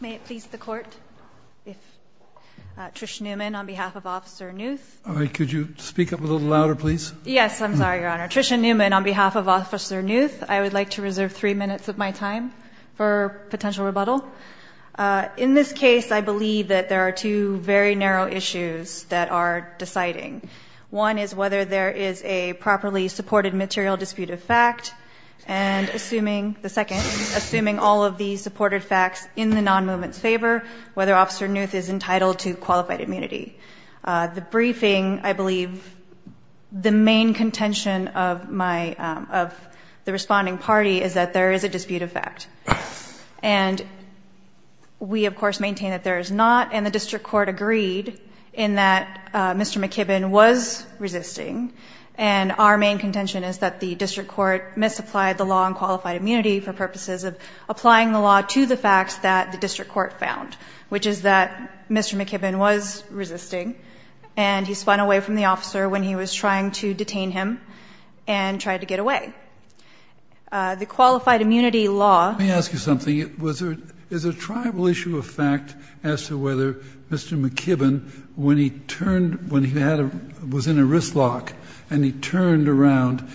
May it please the Court, Trish Newman on behalf of Officer Knuth. Could you speak up a little louder, please? Yes, I'm sorry, Your Honor. Trish Newman on behalf of Officer Knuth. I would like to reserve three minutes of my time for potential rebuttal. In this case, I believe that there are two very narrow issues that are deciding. One is whether there is a properly supported material dispute of fact. And assuming, the second, assuming all of the supported facts in the non-movement's favor, whether Officer Knuth is entitled to qualified immunity. The briefing, I believe, the main contention of the responding party is that there is a dispute of fact. And we, of course, maintain that there is not. And the district court agreed in that Mr. McKibben was resisting. And our main contention is that the district court misapplied the law on qualified immunity for purposes of applying the law to the facts that the district court found, which is that Mr. McKibben was resisting. And he spun away from the officer when he was trying to detain him and tried to get away. The qualified immunity law. Let me ask you something. Is there a tribal issue of fact as to whether Mr. McKibben, when he turned, when he was in a wrist lock and he turned around,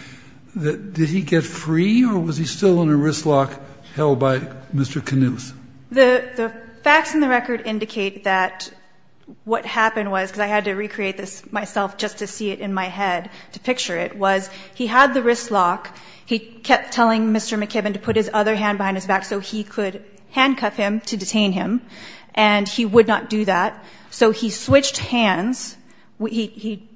did he get free or was he still in a wrist lock held by Mr. Knuth? The facts in the record indicate that what happened was, because I had to recreate this myself just to see it in my head to picture it, was he had the wrist lock. He kept telling Mr. McKibben to put his other hand behind his back so he could handcuff him to detain him. And he would not do that. So he switched hands. He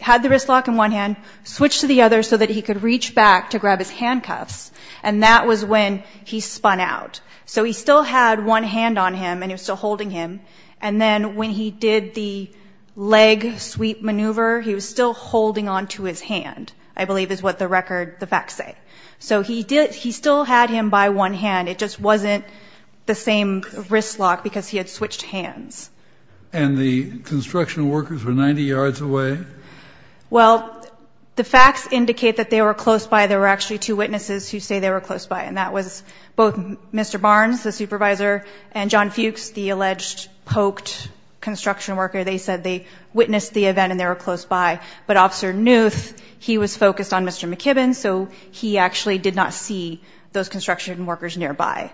had the wrist lock in one hand, switched to the other so that he could reach back to grab his handcuffs. And that was when he spun out. So he still had one hand on him and he was still holding him. And then when he did the leg sweep maneuver, he was still holding on to his hand, I believe is what the facts say. So he still had him by one hand. It just wasn't the same wrist lock because he had switched hands. And the construction workers were 90 yards away? Well, the facts indicate that they were close by. There were actually two witnesses who say they were close by, and that was both Mr. Barnes, the supervisor, and John Fuchs, the alleged poked construction worker. They said they witnessed the event and they were close by. But Officer Knuth, he was focused on Mr. McKibben, so he actually did not see those construction workers nearby.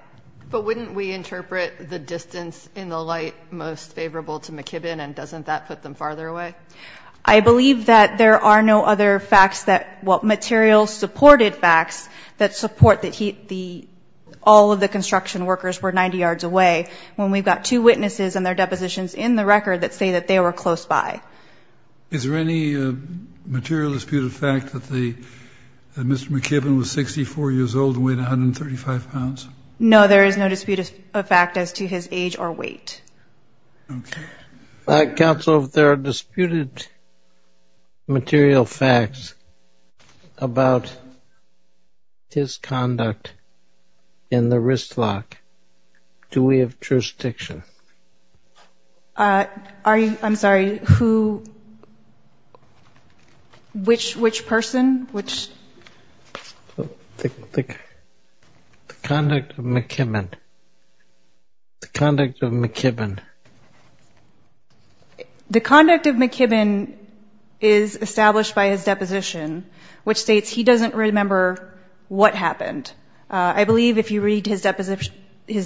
But wouldn't we interpret the distance in the light most favorable to McKibben, and doesn't that put them farther away? I believe that there are no other facts that material supported facts that support that all of the construction workers were 90 yards away when we've got two witnesses and their depositions in the record that say that they were close by. Is there any material disputed fact that Mr. McKibben was 64 years old and weighed 135 pounds? No, there is no disputed fact as to his age or weight. Counsel, if there are disputed material facts about his conduct in the wrist lock, do we have jurisdiction? I'm sorry, who? Which person? The conduct of McKibben. The conduct of McKibben is established by his deposition, which states he doesn't remember what happened. I believe if you read his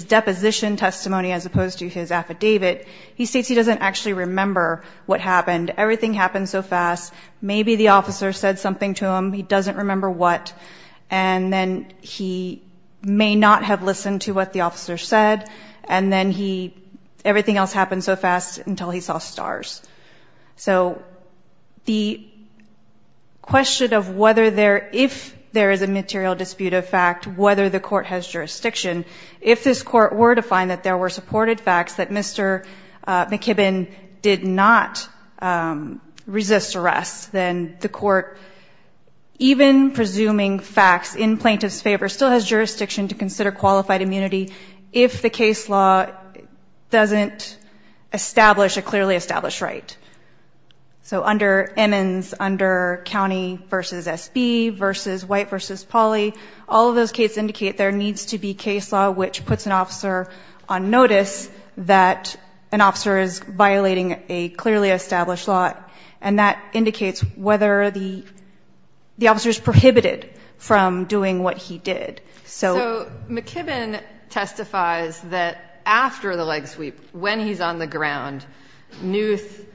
deposition testimony as opposed to his affidavit, he states he doesn't actually remember what happened. Everything happened so fast. Maybe the officer said something to him. He doesn't remember what, and then he may not have listened to what the officer said, and then everything else happened so fast until he saw stars. So the question of whether there, if there is a material disputed fact, whether the court has jurisdiction, if this court were to find that there were supported facts that Mr. McKibben did not resist arrest, then the court, even presuming facts in plaintiff's favor, still has jurisdiction to consider qualified immunity if the case law doesn't establish a clearly established right. So under Emmons, under county versus SB, versus white versus poly, all of those cases indicate there needs to be case law which puts an officer on notice that an officer is violating a clearly established law, and that indicates whether the officer is prohibited from doing what he did. So McKibben testifies that after the leg sweep, when he's on the ground, Knuth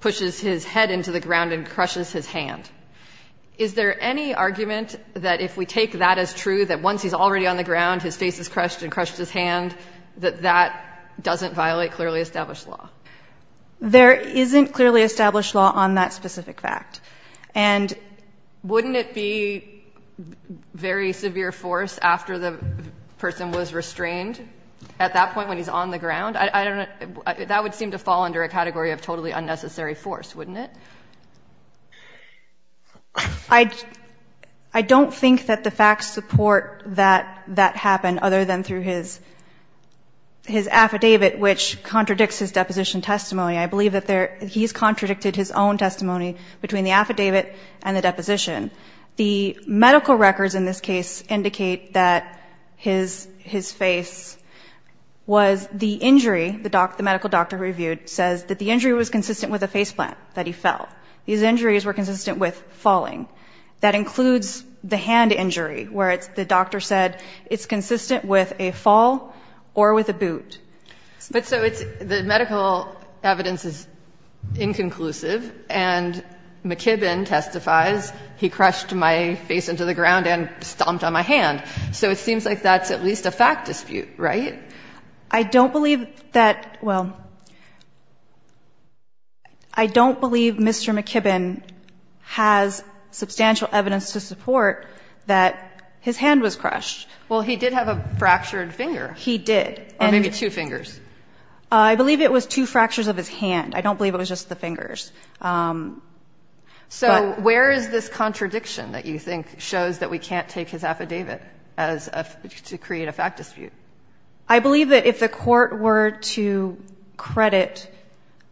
pushes his head into the ground and crushes his hand. Is there any argument that if we take that as true, that once he's already on the ground, his face is crushed and crushed his hand, that that doesn't violate clearly established law? There isn't clearly established law on that specific fact. And wouldn't it be very severe force after the person was restrained at that point when he's on the ground? I don't know. That would seem to fall under a category of totally unnecessary force, wouldn't it? I don't think that the facts support that that happened other than through his affidavit, which contradicts his deposition testimony. I believe that he's contradicted his own testimony between the affidavit and the deposition. The medical records in this case indicate that his face was the injury, the medical doctor reviewed, says that the injury was consistent with a face plant, that he fell. These injuries were consistent with falling. That includes the hand injury, where the doctor said it's consistent with a fall or with a boot. But so the medical evidence is inconclusive, and McKibben testifies, he crushed my face into the ground and stomped on my hand. So it seems like that's at least a fact dispute, right? I don't believe that, well, I don't believe Mr. McKibben has substantial evidence to support that his hand was crushed. Well, he did have a fractured finger. He did. Or maybe two fingers. I believe it was two fractures of his hand. I don't believe it was just the fingers. So where is this contradiction that you think shows that we can't take his affidavit to create a fact dispute? I believe that if the court were to credit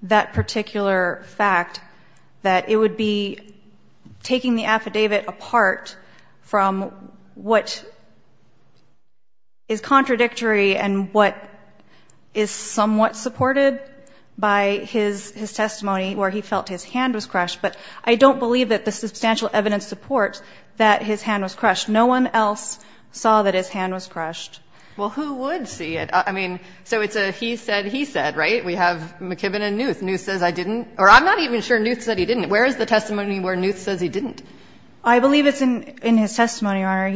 that particular fact, that it would be taking the affidavit apart from what is contradictory and what is somewhat supported by his testimony where he felt his hand was crushed. But I don't believe that the substantial evidence supports that his hand was crushed. No one else saw that his hand was crushed. Well, who would see it? I mean, so it's a he said, he said, right? We have McKibben and Newt. Newt says I didn't. Or I'm not even sure Newt said he didn't. Where is the testimony where Newt says he didn't? I believe it's in his testimony, Your Honor.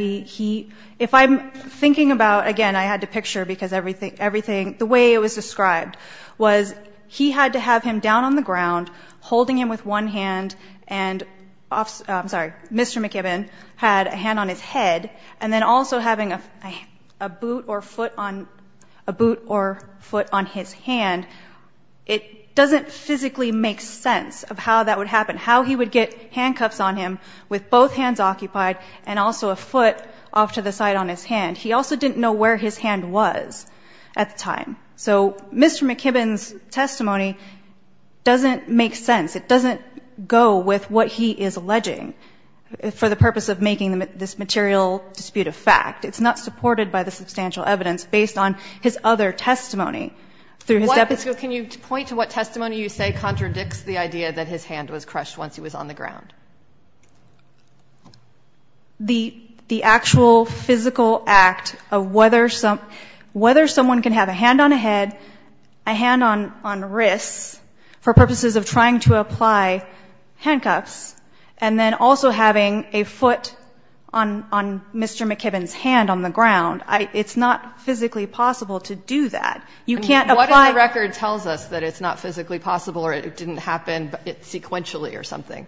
If I'm thinking about, again, I had to picture, because everything, the way it was described was he had to have him down on the ground, holding him with one hand, and Mr. McKibben had a hand on his head, and then also having a boot or foot on his hand. It doesn't physically make sense of how that would happen, how he would get handcuffs on him with both hands occupied and also a foot off to the side on his hand. He also didn't know where his hand was at the time. So Mr. McKibben's testimony doesn't make sense. It doesn't go with what he is alleging for the purpose of making this material dispute a fact. It's not supported by the substantial evidence based on his other testimony. Can you point to what testimony you say contradicts the idea that his hand was crushed once he was on the ground? The actual physical act of whether someone can have a hand on a head, a hand on wrists for purposes of trying to apply handcuffs, and then also having a foot on Mr. McKibben's hand on the ground, it's not physically possible to do that. You can't apply it. What if the record tells us that it's not physically possible or it didn't happen sequentially or something?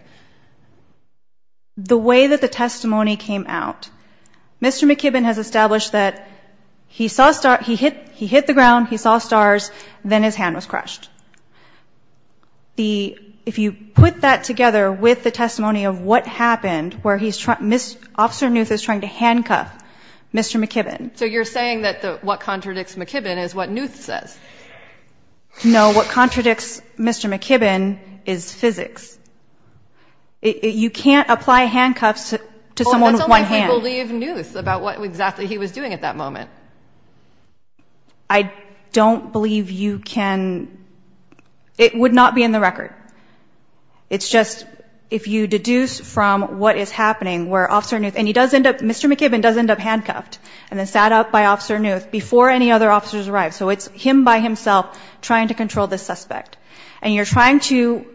The way that the testimony came out, Mr. McKibben has established that he hit the ground, he saw stars, then his hand was crushed. If you put that together with the testimony of what happened, where he's trying to – Officer Knuth is trying to handcuff Mr. McKibben. So you're saying that what contradicts McKibben is what Knuth says? No, what contradicts Mr. McKibben is physics. It's almost like we believe Knuth about what exactly he was doing at that moment. I don't believe you can – it would not be in the record. It's just if you deduce from what is happening where Officer Knuth – and he does end up – Mr. McKibben does end up handcuffed and then sat up by Officer Knuth before any other officers arrived. So it's him by himself trying to control the suspect. And you're trying to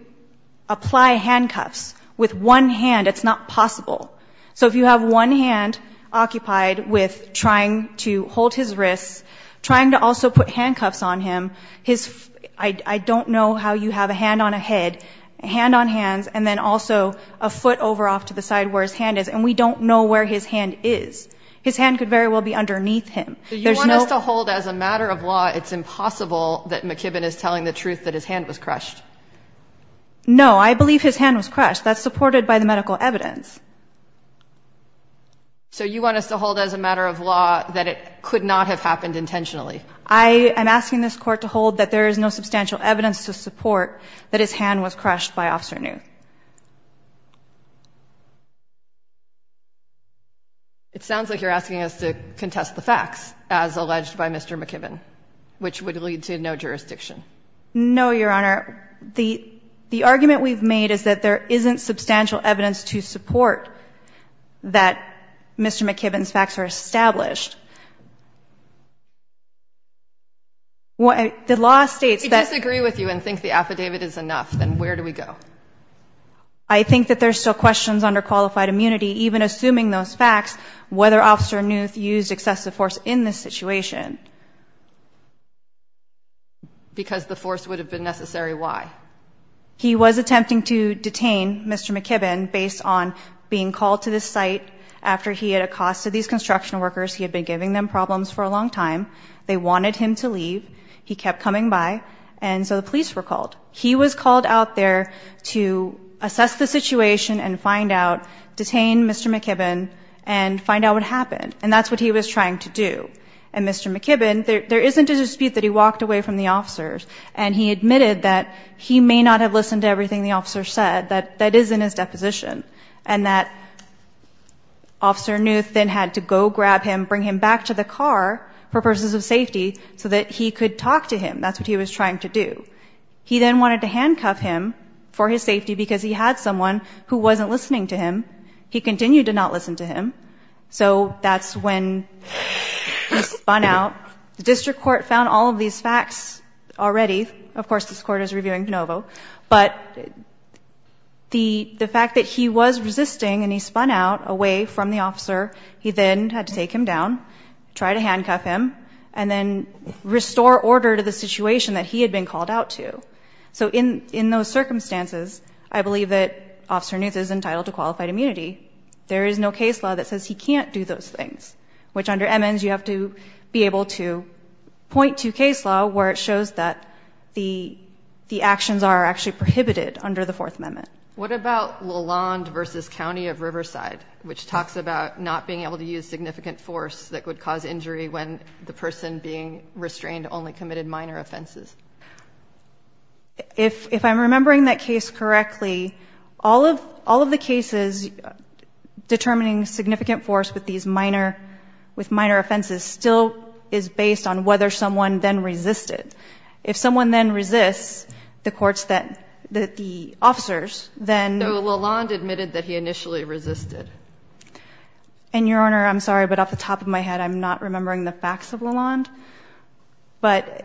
apply handcuffs with one hand. It's not possible. So if you have one hand occupied with trying to hold his wrists, trying to also put handcuffs on him, his – I don't know how you have a hand on a head, a hand on hands, and then also a foot over off to the side where his hand is, and we don't know where his hand is. His hand could very well be underneath him. There's no – So you want us to hold as a matter of law it's impossible that McKibben is telling the truth that his hand was crushed? No, I believe his hand was crushed. That's supported by the medical evidence. So you want us to hold as a matter of law that it could not have happened intentionally? I am asking this Court to hold that there is no substantial evidence to support that his hand was crushed by Officer Knuth. It sounds like you're asking us to contest the facts as alleged by Mr. McKibben, which would lead to no jurisdiction. No, Your Honor. The argument we've made is that there isn't substantial evidence to support that Mr. McKibben's facts are established. The law states that – We disagree with you and think the affidavit is enough. Then where do we go? I think that there are still questions under qualified immunity, even assuming those facts, whether Officer Knuth used excessive force in this situation. Because the force would have been necessary. Why? He was attempting to detain Mr. McKibben based on being called to this site after he had accosted these construction workers. He had been giving them problems for a long time. They wanted him to leave. He kept coming by, and so the police were called. He was called out there to assess the situation and find out, detain Mr. McKibben, and find out what happened. And that's what he was trying to do. And Mr. McKibben, there isn't a dispute that he walked away from the officers, and he admitted that he may not have listened to everything the officer said. That is in his deposition. And that Officer Knuth then had to go grab him, bring him back to the car for purposes of safety, so that he could talk to him. That's what he was trying to do. He then wanted to handcuff him for his safety because he had someone who wasn't listening to him. He continued to not listen to him. So that's when he spun out. The district court found all of these facts already. Of course, this court is reviewing de novo. But the fact that he was resisting and he spun out away from the officer, he then had to take him down, try to handcuff him, and then restore order to the situation that he had been called out to. So in those circumstances, I believe that Officer Knuth is entitled to qualified immunity. There is no case law that says he can't do those things, which under Emmons you have to be able to point to case law where it shows that the actions are actually prohibited under the Fourth Amendment. What about Lalonde v. County of Riverside, which talks about not being able to use significant force that would cause injury when the person being restrained only committed minor offenses? If I'm remembering that case correctly, all of the cases determining significant force with minor offenses still is based on whether someone then resisted. If someone then resists the officers, then— So Lalonde admitted that he initially resisted. And, Your Honor, I'm sorry, but off the top of my head, I'm not remembering the facts of Lalonde. But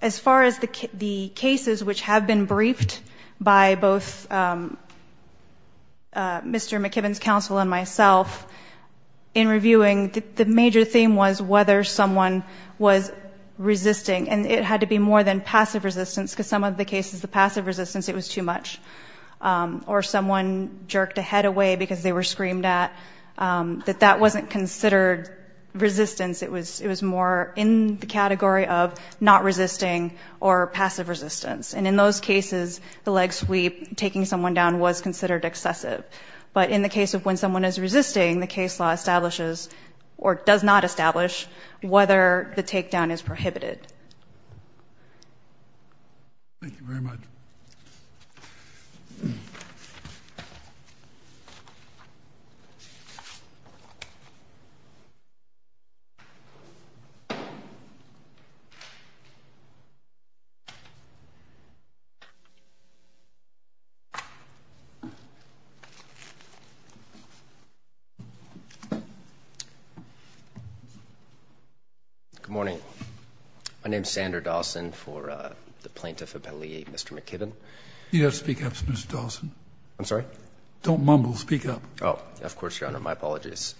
as far as the cases which have been briefed by both Mr. McKibbin's counsel and myself in reviewing, the major theme was whether someone was resisting. And it had to be more than passive resistance, because some of the cases, the passive resistance, it was too much. Or someone jerked a head away because they were screamed at. That that wasn't considered resistance. It was more in the category of not resisting or passive resistance. And in those cases, the leg sweep, taking someone down, was considered excessive. But in the case of when someone is resisting, the case law establishes, or does not establish, whether the takedown is prohibited. Thank you very much. Thank you. Good morning. My name is Sander Dawson for the Plaintiff Appellee, Mr. McKibbin. You don't speak up, Mr. Dawson. I'm sorry? Don't mumble. Speak up. Oh, of course, Your Honor. My apologies.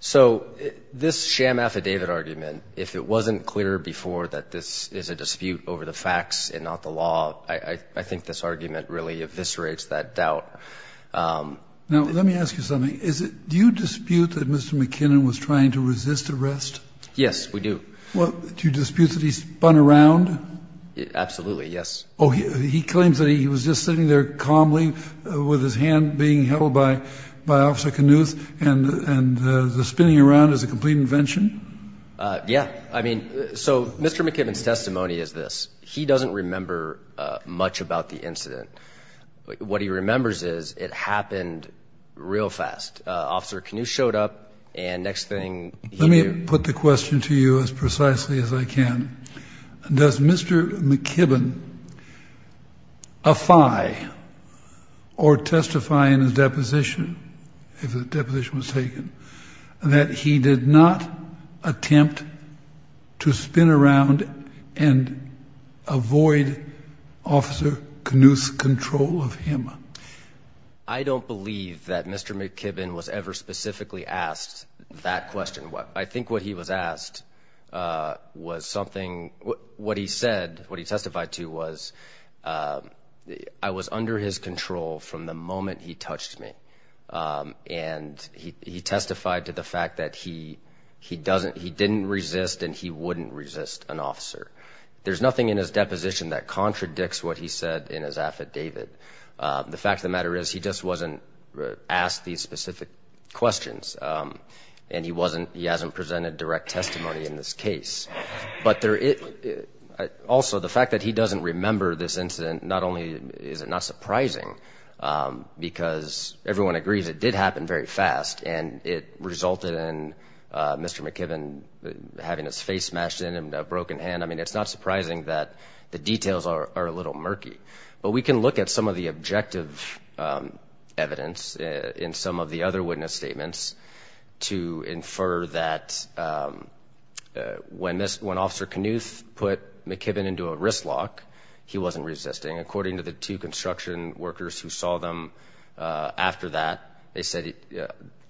So this sham affidavit argument, if it wasn't clear before that this is a dispute over the facts and not the law, I think this argument really eviscerates that doubt. Now, let me ask you something. Do you dispute that Mr. McKibbin was trying to resist arrest? Yes, we do. Do you dispute that he spun around? Absolutely, yes. Oh, he claims that he was just sitting there calmly with his hand being held by Officer Knuth and the spinning around is a complete invention? Yeah. I mean, so Mr. McKibbin's testimony is this. He doesn't remember much about the incident. What he remembers is it happened real fast. Officer Knuth showed up, and next thing he knew. Let me put the question to you as precisely as I can. Does Mr. McKibbin affy or testify in his deposition, if the deposition was taken, that he did not attempt to spin around and avoid Officer Knuth's control of him? I don't believe that Mr. McKibbin was ever specifically asked that question. I think what he was asked was something, what he said, what he testified to was, I was under his control from the moment he touched me, and he testified to the fact that he didn't resist and he wouldn't resist an officer. There's nothing in his deposition that contradicts what he said in his affidavit. The fact of the matter is he just wasn't asked these specific questions, and he hasn't presented direct testimony in this case. But also the fact that he doesn't remember this incident, not only is it not surprising, because everyone agrees it did happen very fast, and it resulted in Mr. McKibbin having his face smashed in and a broken hand. I mean, it's not surprising that the details are a little murky. But we can look at some of the objective evidence in some of the other witness statements to infer that when Officer Knuth put McKibbin into a wrist lock, he wasn't resisting. According to the two construction workers who saw them after that, they said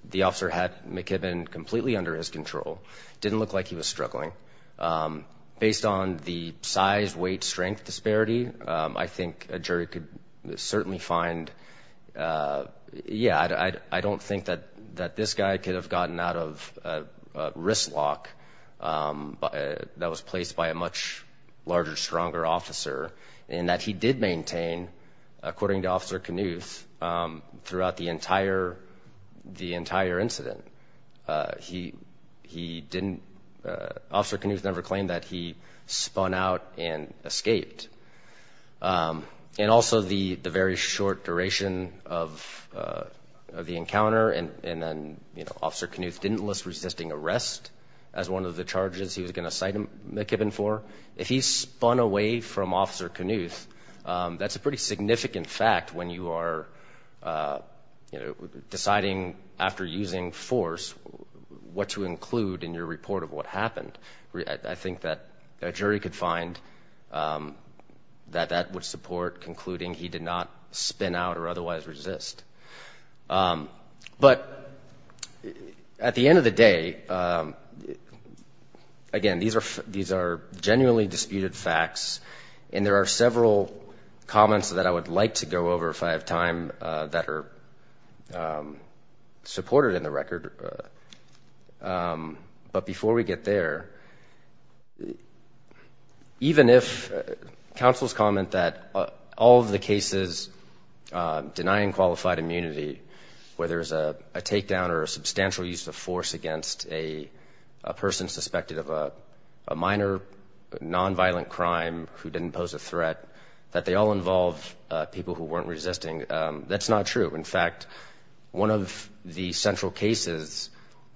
the officer had McKibbin completely under his control, didn't look like he was struggling. Based on the size, weight, strength disparity, I think a jury could certainly find, yeah, I don't think that this guy could have gotten out of a wrist lock that was placed by a much larger, stronger officer, and that he did maintain, according to Officer Knuth, throughout the entire incident. He didn't, Officer Knuth never claimed that he spun out and escaped. And also the very short duration of the encounter, and then Officer Knuth didn't list resisting arrest as one of the charges he was going to cite McKibbin for. If he spun away from Officer Knuth, that's a pretty significant fact when you are deciding after using force what to include in your report of what happened. I think that a jury could find that that would support concluding he did not spin out or otherwise resist. But at the end of the day, again, these are genuinely disputed facts, and there are several comments that I would like to go over if I have time that are supported in the record. But before we get there, even if counsels comment that all of the cases denying qualified immunity, whether it's a takedown or a substantial use of force against a person suspected of a minor nonviolent crime who didn't pose a threat, that they all involve people who weren't resisting, that's not true. In fact, one of the central cases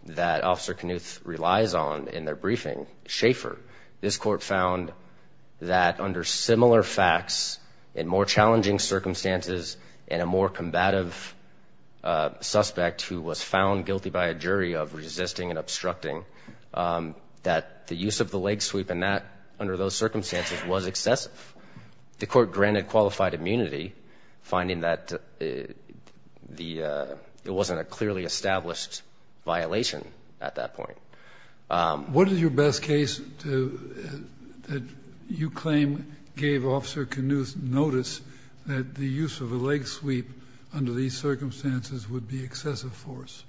that Officer Knuth relies on in their briefing, Schaefer, this court found that under similar facts and more challenging circumstances and a more combative suspect who was found guilty by a jury of resisting and obstructing, that the use of the leg sweep under those circumstances was excessive. The court granted qualified immunity, finding that it wasn't a clearly established violation at that point. What is your best case that you claim gave Officer Knuth notice that the use of a leg sweep under these circumstances would be excessive force?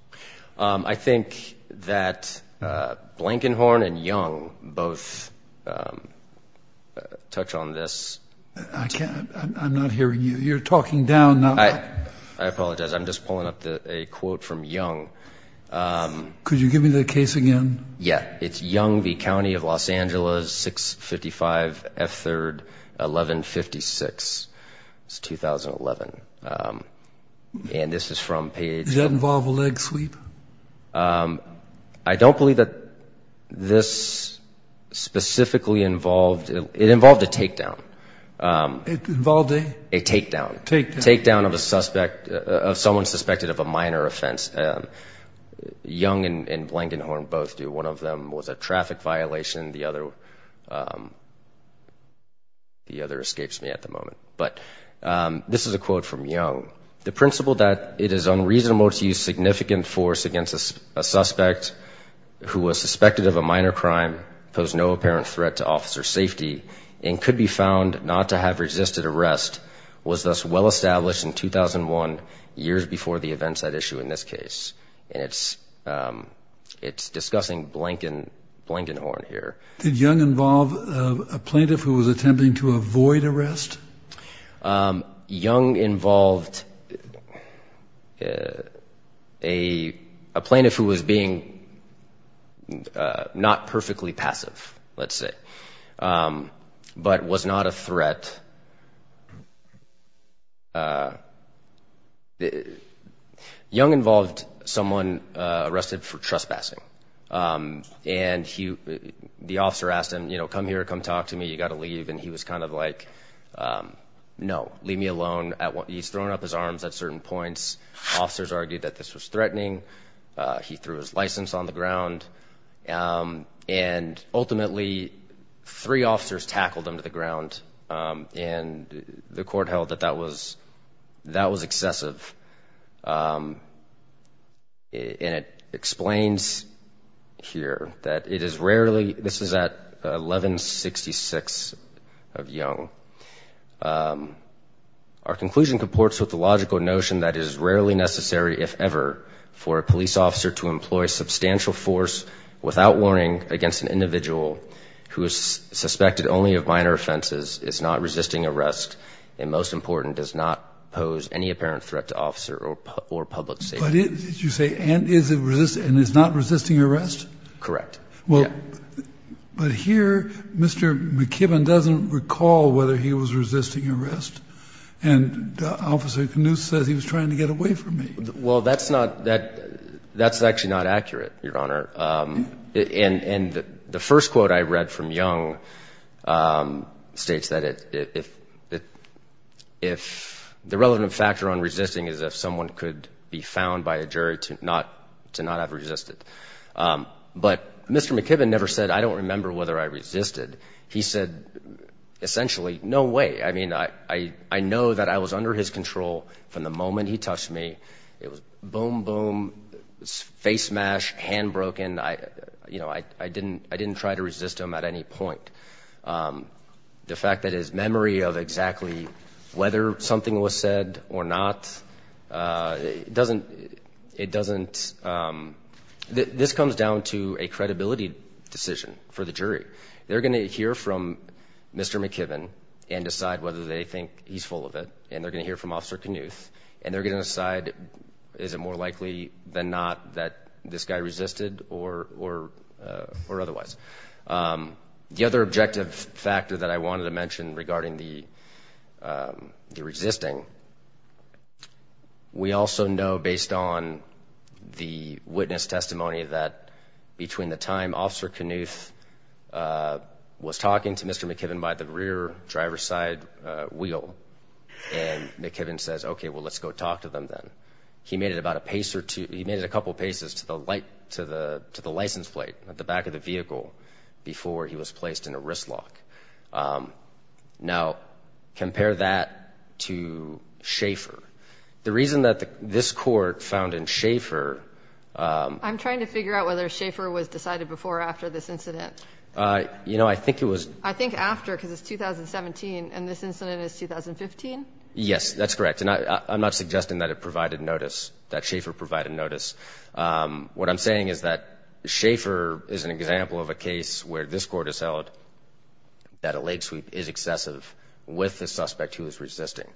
I think that Blankenhorn and Young both touch on this. I'm not hearing you. You're talking down. I apologize. I'm just pulling up a quote from Young. Could you give me the case again? Yeah. It's Young v. County of Los Angeles, 655 F. 3rd, 1156. It's 2011. And this is from Page. Does that involve a leg sweep? I don't believe that this specifically involved. It involved a takedown. It involved a? A takedown. Takedown of a suspect, of someone suspected of a minor offense. Young and Blankenhorn both do. One of them was a traffic violation. The other escapes me at the moment. But this is a quote from Young. The principle that it is unreasonable to use significant force against a suspect who was suspected of a minor crime, posed no apparent threat to officer safety, and could be found not to have resisted arrest, was thus well established in 2001, years before the events at issue in this case. And it's discussing Blankenhorn here. Did Young involve a plaintiff who was attempting to avoid arrest? Young involved a plaintiff who was being not perfectly passive, let's say, but was not a threat. Young involved someone arrested for trespassing. And the officer asked him, you know, come here, come talk to me, you got to leave. And he was kind of like, no, leave me alone. He's thrown up his arms at certain points. Officers argued that this was threatening. He threw his license on the ground. And ultimately three officers tackled him to the ground, and the court held that that was excessive. And it explains here that it is rarely, this is at 1166 of Young. Our conclusion comports with the logical notion that it is rarely necessary, if ever, for a police officer to employ substantial force without warning against an individual who is suspected only of minor offenses, is not resisting arrest, and most important, does not pose any apparent threat to officer or public safety. But you say, and is not resisting arrest? Correct. Well, but here Mr. McKibbin doesn't recall whether he was resisting arrest. And Officer Knuth says he was trying to get away from me. Well, that's not, that's actually not accurate, Your Honor. And the first quote I read from Young states that if, the relevant factor on resisting is if someone could be found by a jury to not have resisted. But Mr. McKibbin never said, I don't remember whether I resisted. He said, essentially, no way. I mean, I know that I was under his control from the moment he touched me. It was boom, boom, face smash, hand broken. You know, I didn't try to resist him at any point. The fact that his memory of exactly whether something was said or not doesn't, it doesn't, this comes down to a credibility decision for the jury. They're going to hear from Mr. McKibbin and decide whether they think he's full of it, and they're going to hear from Officer Knuth, and they're going to decide, is it more likely than not that this guy resisted or otherwise. The other objective factor that I wanted to mention regarding the resisting, we also know based on the witness testimony that between the time Officer Knuth was talking to Mr. McKibbin by the rear driver's side wheel, and McKibbin says, okay, well, let's go talk to them then, he made it about a pace or two, he made it a couple of paces to the license plate at the back of the vehicle before he was placed in a wrist lock. Now, compare that to Schaefer. The reason that this court found in Schaefer. I'm trying to figure out whether Schaefer was decided before or after this incident. I think it was. I think after, because it's 2017, and this incident is 2015? Yes, that's correct. And I'm not suggesting that it provided notice, that Schaefer provided notice. What I'm saying is that Schaefer is an example of a case where this Court has held that a leg sweep is excessive with the suspect who is resisting.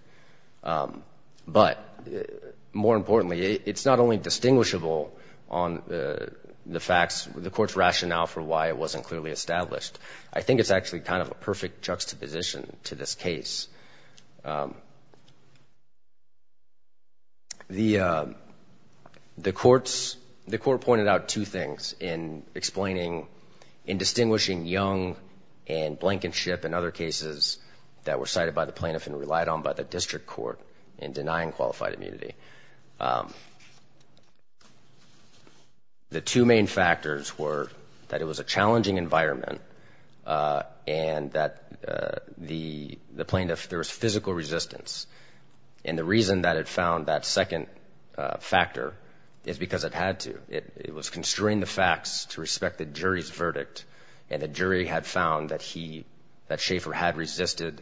But more importantly, it's not only distinguishable on the facts, the Court's rationale for why it wasn't clearly established. I think it's actually kind of a perfect juxtaposition to this case. The Court pointed out two things in explaining, in distinguishing Young and Blankenship and other cases that were cited by the plaintiff and relied on by the District Court in denying qualified immunity. The two main factors were that it was a challenging environment and that the plaintiff, there was physical resistance. And the reason that it found that second factor is because it had to. It was constrained the facts to respect the jury's verdict, and the jury had found that Schaefer had resisted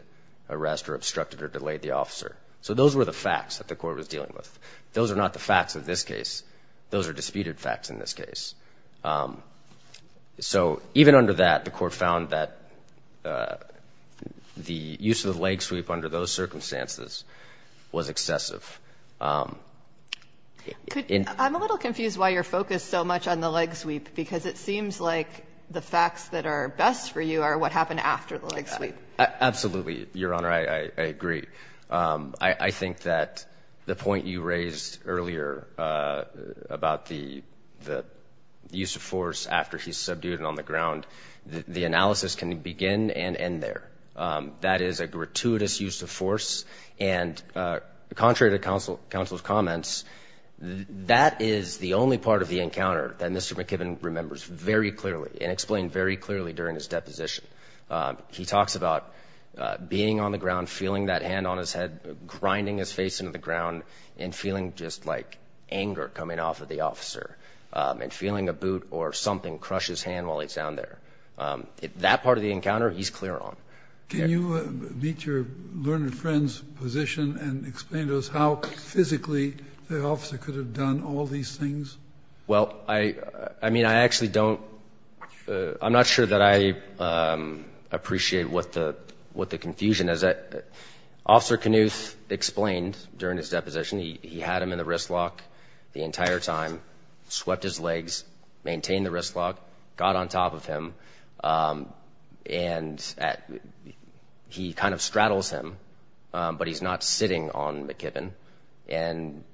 arrest or obstructed or delayed the officer. So those were the facts that the Court was dealing with. Those are not the facts of this case. Those are disputed facts in this case. So even under that, the Court found that the use of the leg sweep under those circumstances In the case of Young and Blankenship, the court found that the use of the leg sweep under those circumstances was excessive. I'm a little confused why you're focused so much on the leg sweep, because it seems like the facts that are best for you are what happened after the leg sweep. Absolutely, Your Honor, I agree. I think that the point you raised earlier about the use of force after he's subdued and on the ground, the analysis can begin and end there. That is a gratuitous use of force, and contrary to counsel's comments, that is the only part of the encounter that Mr. McKibbin remembers very clearly and explained very clearly during his deposition. He talks about being on the ground, feeling that hand on his head, grinding his face into the ground and feeling just like anger coming off of the officer and feeling a boot or something crush his hand while he's down there. That part of the encounter, he's clear on. Can you meet your learned friend's position and explain to us how physically the officer could have done all these things? Well, I mean, I actually don't – I'm not sure that I appreciate what the confusion is. Officer Knuth explained during his deposition he had him in the wrist lock the entire time, swept his legs, maintained the wrist lock, got on top of him, and he kind of straddles him, but he's not sitting on McKibbin. And,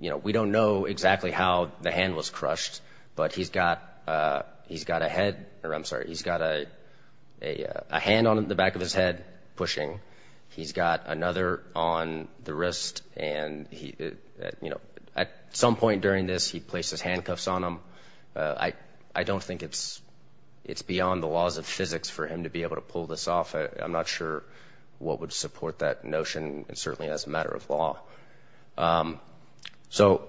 you know, we don't know exactly how the hand was crushed, but he's got a head – or I'm sorry, he's got a hand on the back of his head pushing. He's got another on the wrist, and, you know, at some point during this, he places handcuffs on him. I don't think it's beyond the laws of physics for him to be able to pull this off. I'm not sure what would support that notion. It certainly is a matter of law. So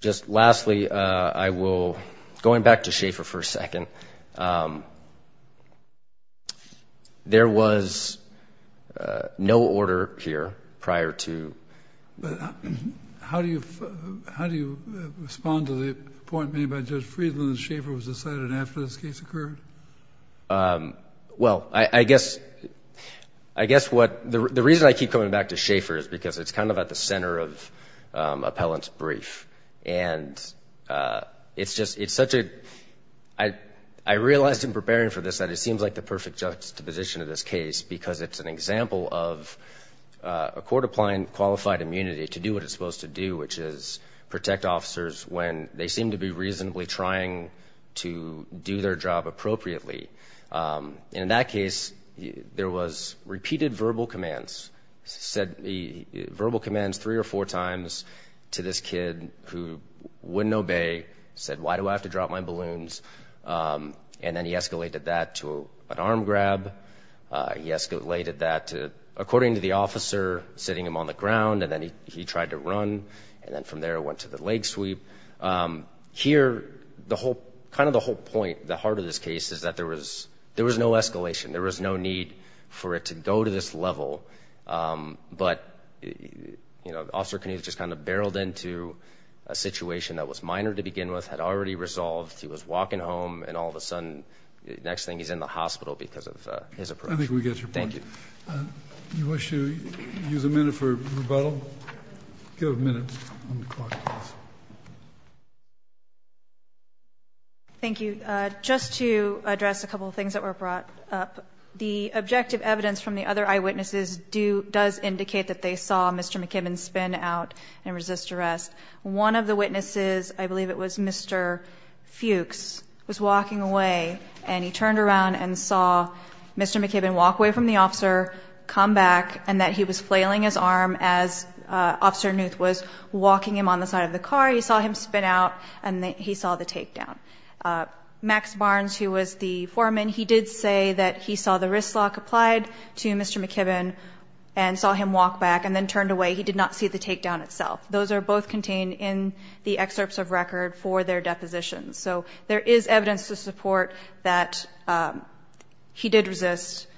just lastly, I will – going back to Schaefer for a second. There was no order here prior to – but how do you respond to the point made by Judge Friedland that Schaefer was decided after this case occurred? Well, I guess what – the reason I keep coming back to Schaefer is because it's kind of at the center of Appellant's brief. And it's just – it's such a – I realized in preparing for this that it seems like the perfect juxtaposition of this case because it's an example of a court applying qualified immunity to do what it's supposed to do, which is protect officers when they seem to be reasonably trying to do their job appropriately. And in that case, there was repeated verbal commands, verbal commands three or four times to this kid who wouldn't obey, said, why do I have to drop my balloons? And then he escalated that to an arm grab. He escalated that to, according to the officer, sitting him on the ground, and then he tried to run, and then from there it went to the leg sweep. Here, the whole – kind of the whole point, the heart of this case, is that there was – there was no escalation. There was no need for it to go to this level. But, you know, Officer Knuth just kind of barreled into a situation that was minor to begin with, had already resolved, he was walking home, and all of a sudden, next thing, he's in the hospital because of his approach. I think we get your point. Thank you. You wish to use a minute for rebuttal? Give a minute on the clock, please. Thank you. Just to address a couple of things that were brought up, the objective evidence from the other eyewitnesses does indicate that they saw Mr. McKibbin spin out and resist arrest. One of the witnesses, I believe it was Mr. Fuchs, was walking away, and he turned around and saw Mr. McKibbin walk away from the officer, come back, and that he was flailing his arm as Officer Knuth was walking him on the side of the car. He saw him spin out, and he saw the takedown. Max Barnes, who was the foreman, he did say that he saw the wrist lock applied to Mr. McKibbin and saw him walk back and then turned away. He did not see the takedown itself. Those are both contained in the excerpts of record for their depositions. So there is evidence to support that he did resist,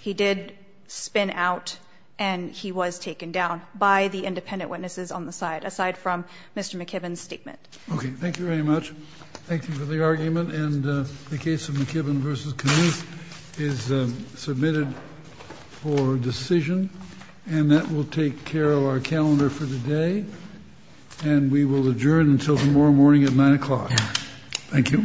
he did spin out, and he was taken down by the independent witnesses on the side, aside from Mr. McKibbin's statement. Okay. Thank you very much. Thank you for the argument. And the case of McKibbin v. Knuth is submitted for decision, and that will take care of our calendar for the day, and we will adjourn until tomorrow morning at 9 o'clock. Thank you.